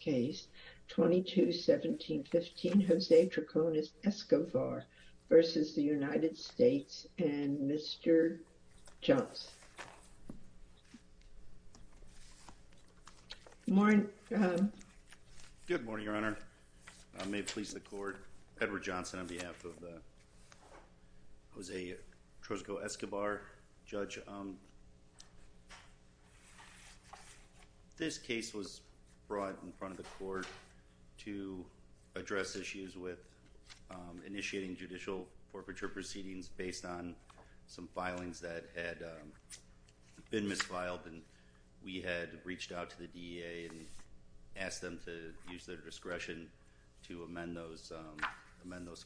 case, 22-17-15, Jose Troconis-Escovar v. United States and Mr. Johnson. Good morning, Your Honor. I may please the court. Edward Johnson on behalf of Jose Troconis-Escovar. Judge, this case was brought in front of the court to address issues with initiating judicial forfeiture proceedings based on some filings that had been misfiled and we had reached out to the DEA and asked them to use their discretion to amend those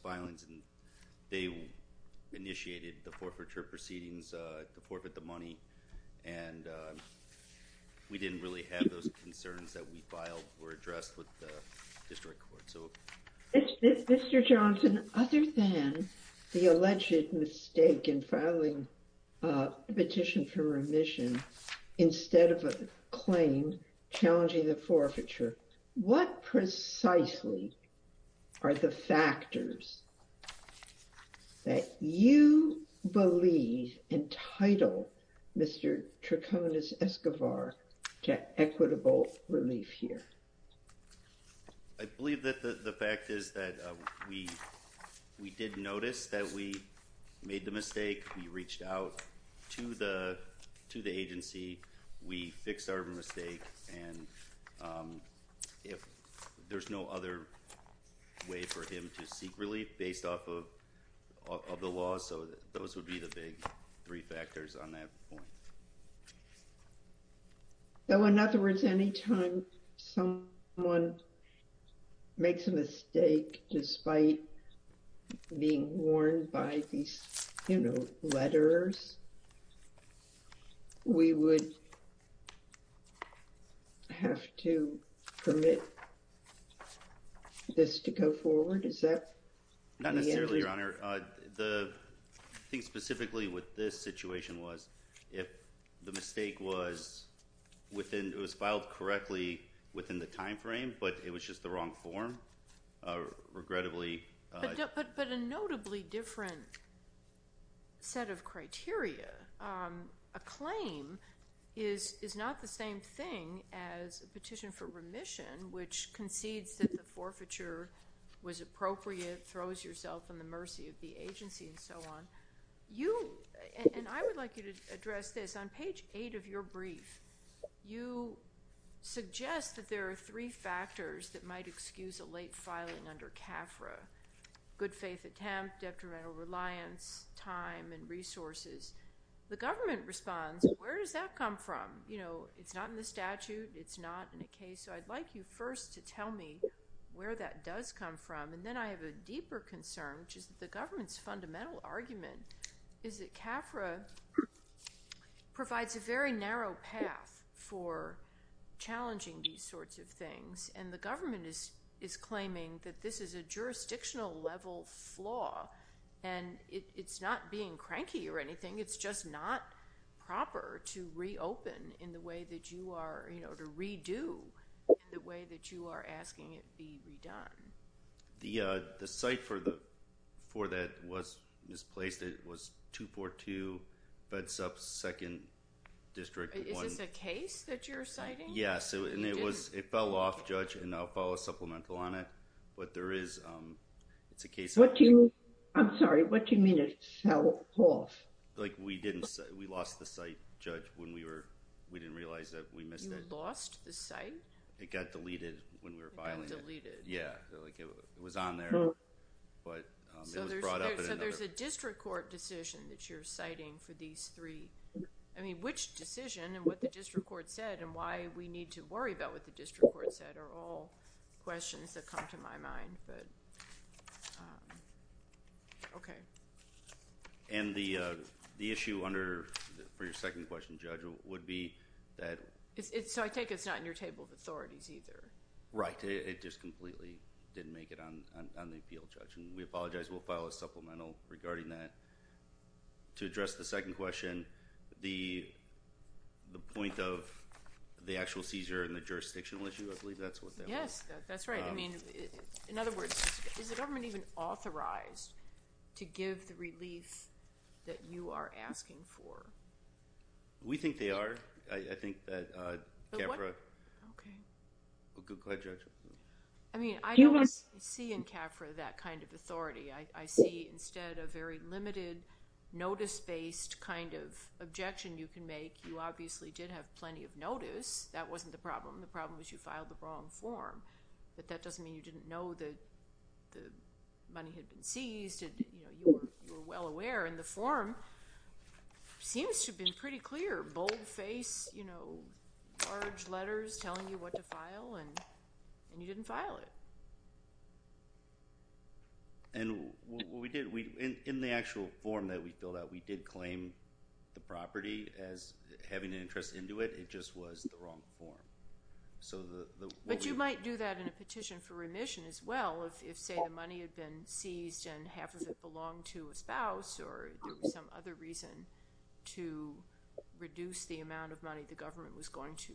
filings. They initiated the forfeiture proceedings to forfeit the money and we didn't really have those concerns that we filed or addressed with the district court. Mr. Johnson, other than the alleged mistake in filing a petition for remission instead of a claim challenging the forfeiture, what precisely are the factors that you believe entitle Mr. Troconis-Escovar to equitable relief here? I believe that the fact is that we did notice that we made the mistake. We reached out to the agency, we fixed our mistake, and there's no other way for him to seek relief based off of the law, so those would be the big three factors on that point. So, in other words, any time someone makes a mistake despite being warned by these, you know, letters, we would have to permit this to go forward? Is that the answer? Your Honor, I think specifically what this situation was, if the mistake was within, it was filed correctly within the time frame, but it was just the wrong form, regrettably. But a notably different set of criteria. A claim is not the same thing as a petition for remission, which concedes that the forfeiture was appropriate, throws yourself in the mercy of the agency, and so on. You, and I would like you to address this, on page 8 of your brief, you suggest that there are three factors that might excuse a late filing under CAFRA, good faith attempt, detrimental reliance, time, and resources. The government responds, where does that come from? You know, it's not in the statute, it's not in the case, so I'd like you first to tell me where that does come from, and then I have a deeper concern, which is that the government's fundamental argument is that CAFRA provides a very narrow path for challenging these sorts of things, and the government is claiming that this is a jurisdictional level flaw, and it's not being cranky or anything, it's just not proper to reopen in the way that you are, you know, to redo in the way that you are asking it be redone. The site for that was misplaced, it was 242 Bedsop 2nd District 1... Is this a case that you're citing? Yes, and it fell off, Judge, and I'll follow supplemental on it, but there is, it's a case... What do you, I'm sorry, what do you mean it fell off? Like we didn't, we lost the site, Judge, when we were, we didn't realize that we missed it. You lost the site? It got deleted when we were filing it. It got deleted? Yeah, like it was on there, but it was brought up in another... So there's a district court decision that you're citing for these three, I mean, which decision and what the district court said and why we need to worry about what the district court said are all questions that come to my mind, but, okay. And the issue under, for your second question, Judge, would be that... So I take it's not in your table of authorities either? Right, it just completely didn't make it on the appeal, Judge, and we apologize, we'll file a supplemental regarding that. To address the second question, the point of the actual seizure and the jurisdictional issue, I believe that's what that was. Yes, that's right. I mean, in other words, is the government even authorized to give the relief that you are asking for? We think they are. I think that CAFRA... Okay. Go ahead, Judge. I mean, I don't see in CAFRA that kind of authority. I see instead a very limited, notice-based kind of objection you can make. You obviously did have plenty of notice. That wasn't the problem. The problem was you filed the wrong form. But that doesn't mean you didn't know that the money had been seized. You were well aware, and the form seems to have been pretty clear. Bold face, you know, large letters telling you what to file, and you didn't file it. And what we did, in the actual form that we filled out, we did claim the property as having an interest into it. It just was the wrong form. But you might do that in a petition for remission as well if, say, the money had been seized and half of it belonged to a spouse or there was some other reason to reduce the amount of money the government was going to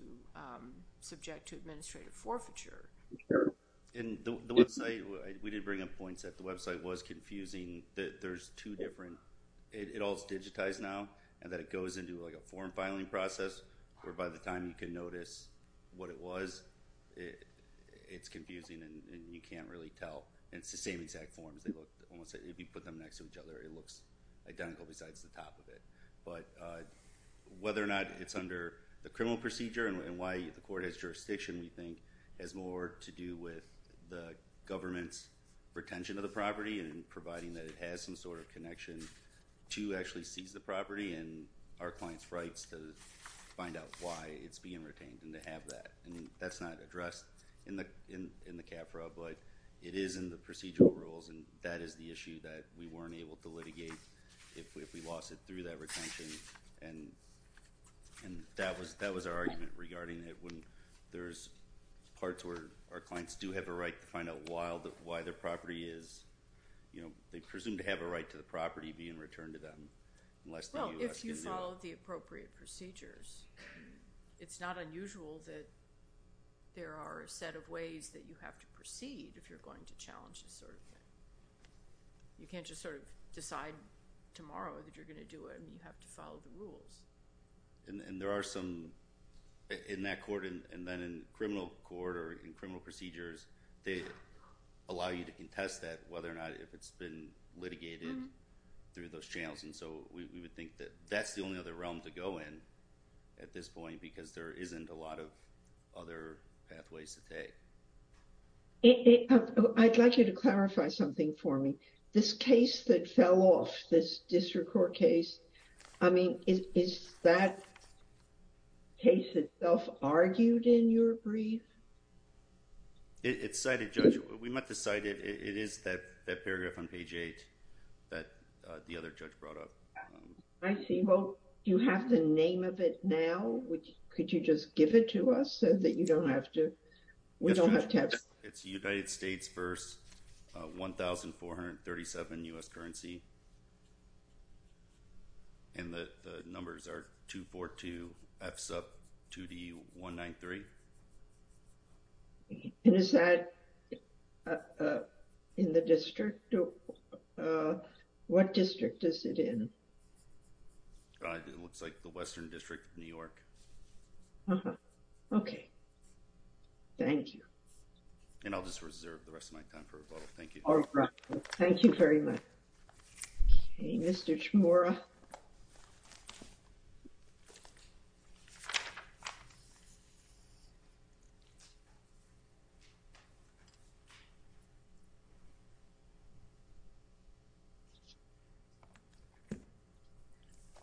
subject to administrative forfeiture. And the website, we did bring up points that the website was confusing. There's two different... it all is digitized now, and that it goes into, like, a form filing process where, by the time you can notice what it was, it's confusing and you can't really tell. And it's the same exact forms. If you put them next to each other, it looks identical besides the top of it. But whether or not it's under the criminal procedure and why the court has jurisdiction, we think, has more to do with the government's retention of the property and providing that it has some sort of connection to actually seize the property and our client's rights to find out why it's being retained and to have that. And that's not addressed in the CAFRA, but it is in the procedural rules, and that is the issue that we weren't able to litigate if we lost it through that retention. And that was our argument regarding it when there's parts where our clients do have a right to find out why their property is... you know, they presume to have a right to the property being returned to them unless the U.S.... It's not unusual that there are a set of ways that you have to proceed if you're going to challenge this sort of thing. You can't just sort of decide tomorrow that you're going to do it. You have to follow the rules. And there are some in that court and then in criminal court or in criminal procedures, they allow you to contest that whether or not if it's been litigated through those channels. And so we would think that that's the only other realm to go in at this point because there isn't a lot of other pathways to take. I'd like you to clarify something for me. This case that fell off, this district court case, I mean, is that case itself argued in your brief? It's cited, Judge. We might decide it is that paragraph on page eight that the other judge brought up. I see. Well, you have the name of it now. Could you just give it to us so that you don't have to... We don't have to have... It's United States v. 1437 U.S. currency. And the numbers are 242F sub 2D193. And is that in the district? What district is it in? It looks like the Western District of New York. Uh-huh. Okay. Thank you. And I'll just reserve the rest of my time for rebuttal. Thank you. All right. Thank you very much. Okay. Mr. Chmura.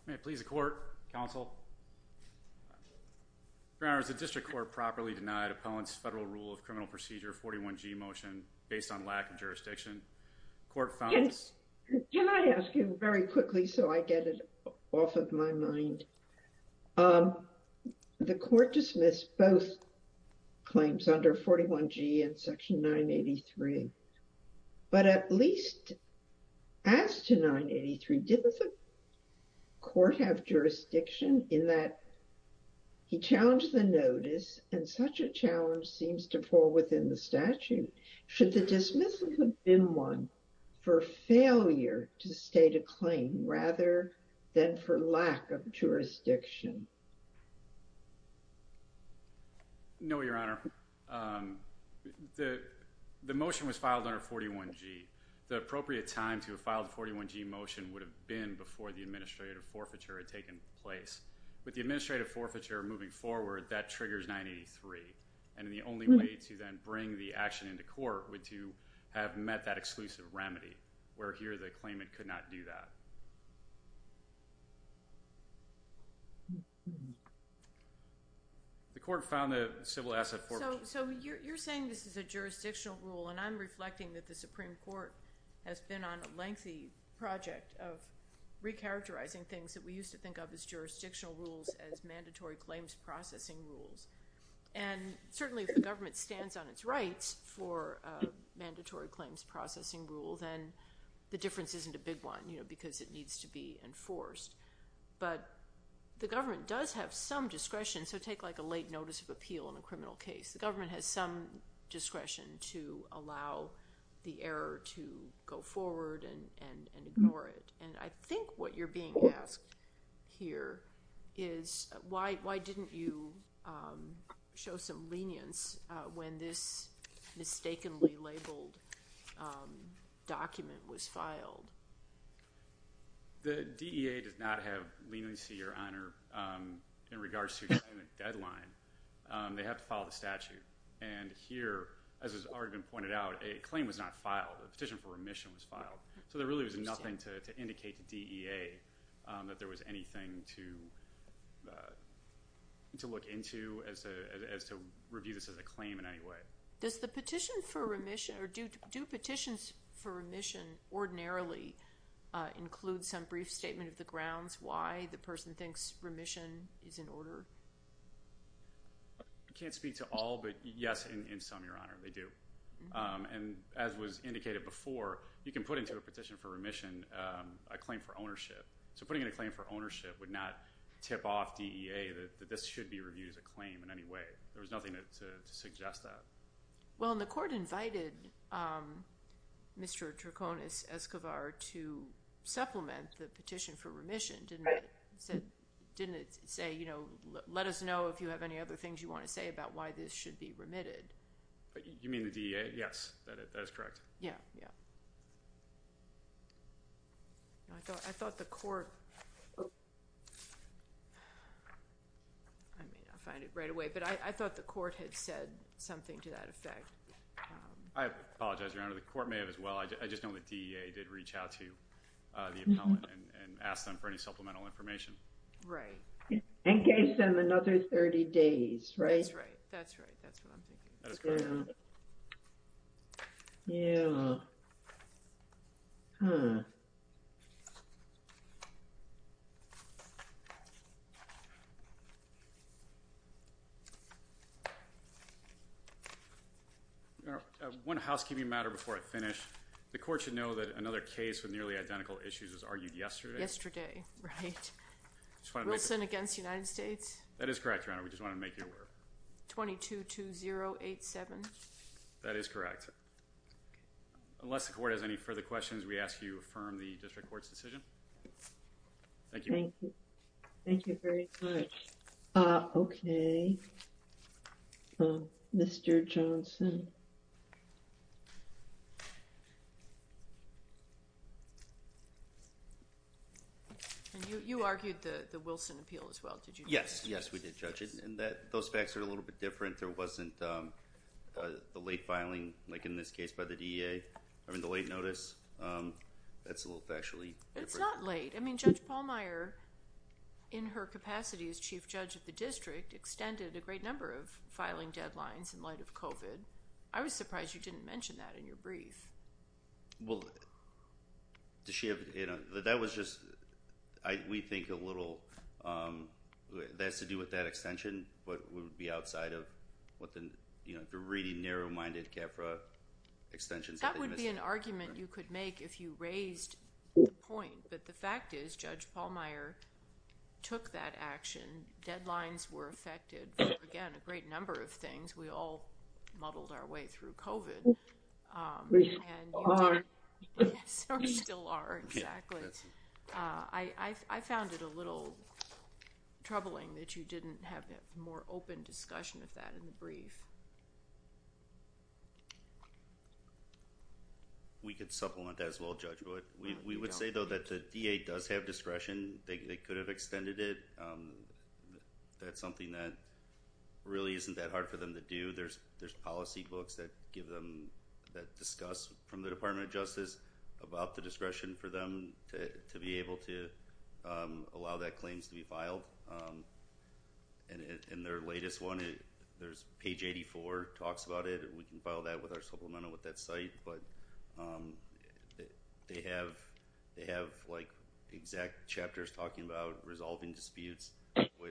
May it please the court, counsel? Browners, the district court properly denied appellant's federal rule of criminal procedure 41G motion based on lack of jurisdiction. Court found... Can I ask you very quickly so I get it off of my mind? The court dismissed both claims under 41G and Section 983. But at least as to 983, did the court have jurisdiction in that he challenged the notice and such a challenge seems to fall within the statute? Should the dismissal have been one for failure to state a claim rather than for lack of jurisdiction? No, Your Honor. The motion was filed under 41G. The appropriate time to have filed the 41G motion would have been before the administrative forfeiture had taken place. With the administrative forfeiture moving forward, that triggers 983. And the only way to then bring the action into court would to have met that exclusive remedy where here the claimant could not do that. The court found the civil asset forfeiture... So you're saying this is a jurisdictional rule, and I'm reflecting that the Supreme Court has been on a lengthy project of recharacterizing things that we used to think of as jurisdictional rules as mandatory claims processing rules. And certainly if the government stands on its rights for mandatory claims processing rule, then the difference isn't a big one, you know, because it needs to be enforced. But the government does have some discretion. So take like a late notice of appeal in a criminal case. The government has some discretion to allow the error to go forward and ignore it. And I think what you're being asked here is why didn't you show some lenience when this mistakenly labeled document was filed? The DEA does not have leniency or honor in regards to the deadline. They have to follow the statute. And here, as has already been pointed out, a claim was not filed. A petition for remission was filed. So there really was nothing to indicate to DEA that there was anything to review this as a claim in any way. Does the petition for remission or do petitions for remission ordinarily include some brief statement of the grounds why the person thinks remission is in order? I can't speak to all, but yes, in some, Your Honor, they do. And as was indicated before, you can put into a petition for remission a claim for ownership. So putting in a claim for ownership would not tip off DEA that this should be reviewed as a claim in any way. There was nothing to suggest that. Well, and the court invited Mr. Draconis Escobar to supplement the petition for remission, didn't it? Didn't it say, you know, let us know if you have any other things you want to say about why this should be remitted? You mean the DEA? Yes, that is correct. Yeah, yeah. I thought the court, I may not find it right away, but I thought the court had said something to that effect. I apologize, Your Honor. The court may have as well. I just know the DEA did reach out to the appellant and asked them for any supplemental information. Right. And gave them another 30 days, right? That's right. That's right. That's what I'm thinking. Yeah. Hmm. One housekeeping matter before I finish. The court should know that another case with nearly identical issues was argued yesterday. Yesterday. Right. Wilson against United States. That is correct, Your Honor. We just want to make you aware. 22-2087. That is correct. Unless the court has any further questions, we ask you affirm the district court's decision. Thank you. Thank you. Thank you very much. Okay. Mr. Johnson. You argued the Wilson appeal as well, did you? Yes. Yes, we did, Judge. Those facts are a little bit different. There wasn't the late filing, like in this case by the DEA, or the late notice. That's a little factually different. It's not late. I mean, Judge Pallmeyer, in her capacity as Chief Judge of the district, extended a great number of filing deadlines in light of COVID. I was surprised you didn't mention that in your brief. Well, that was just... we think a little... That has to do with that extension, but it would be outside of the really narrow-minded CAFRA extensions. That would be an argument you could make if you raised the point, but the fact is Judge Pallmeyer took that action. Deadlines were affected, again, a great number of things. We all muddled our way through COVID. We still are. We still are, exactly. I found it a little troubling that you didn't have a more open discussion of that in the brief. We could supplement that as well, Judge Wood. We would say, though, that the DEA does have discretion. They could have extended it. That's something that really isn't that hard for them to do. There's policy books that discuss from the Department of Justice about the discretion for them to be able to allow that claims to be filed. In their latest one, there's page 84 talks about it. We can file that with our supplemental with that site. They have exact chapters talking about resolving disputes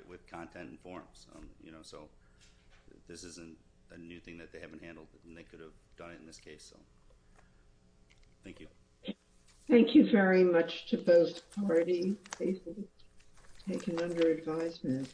with content and forms. This isn't a new thing that they haven't handled, and they could have done it in this case. Thank you. Thank you very much to both parties. Thank you for your advisement.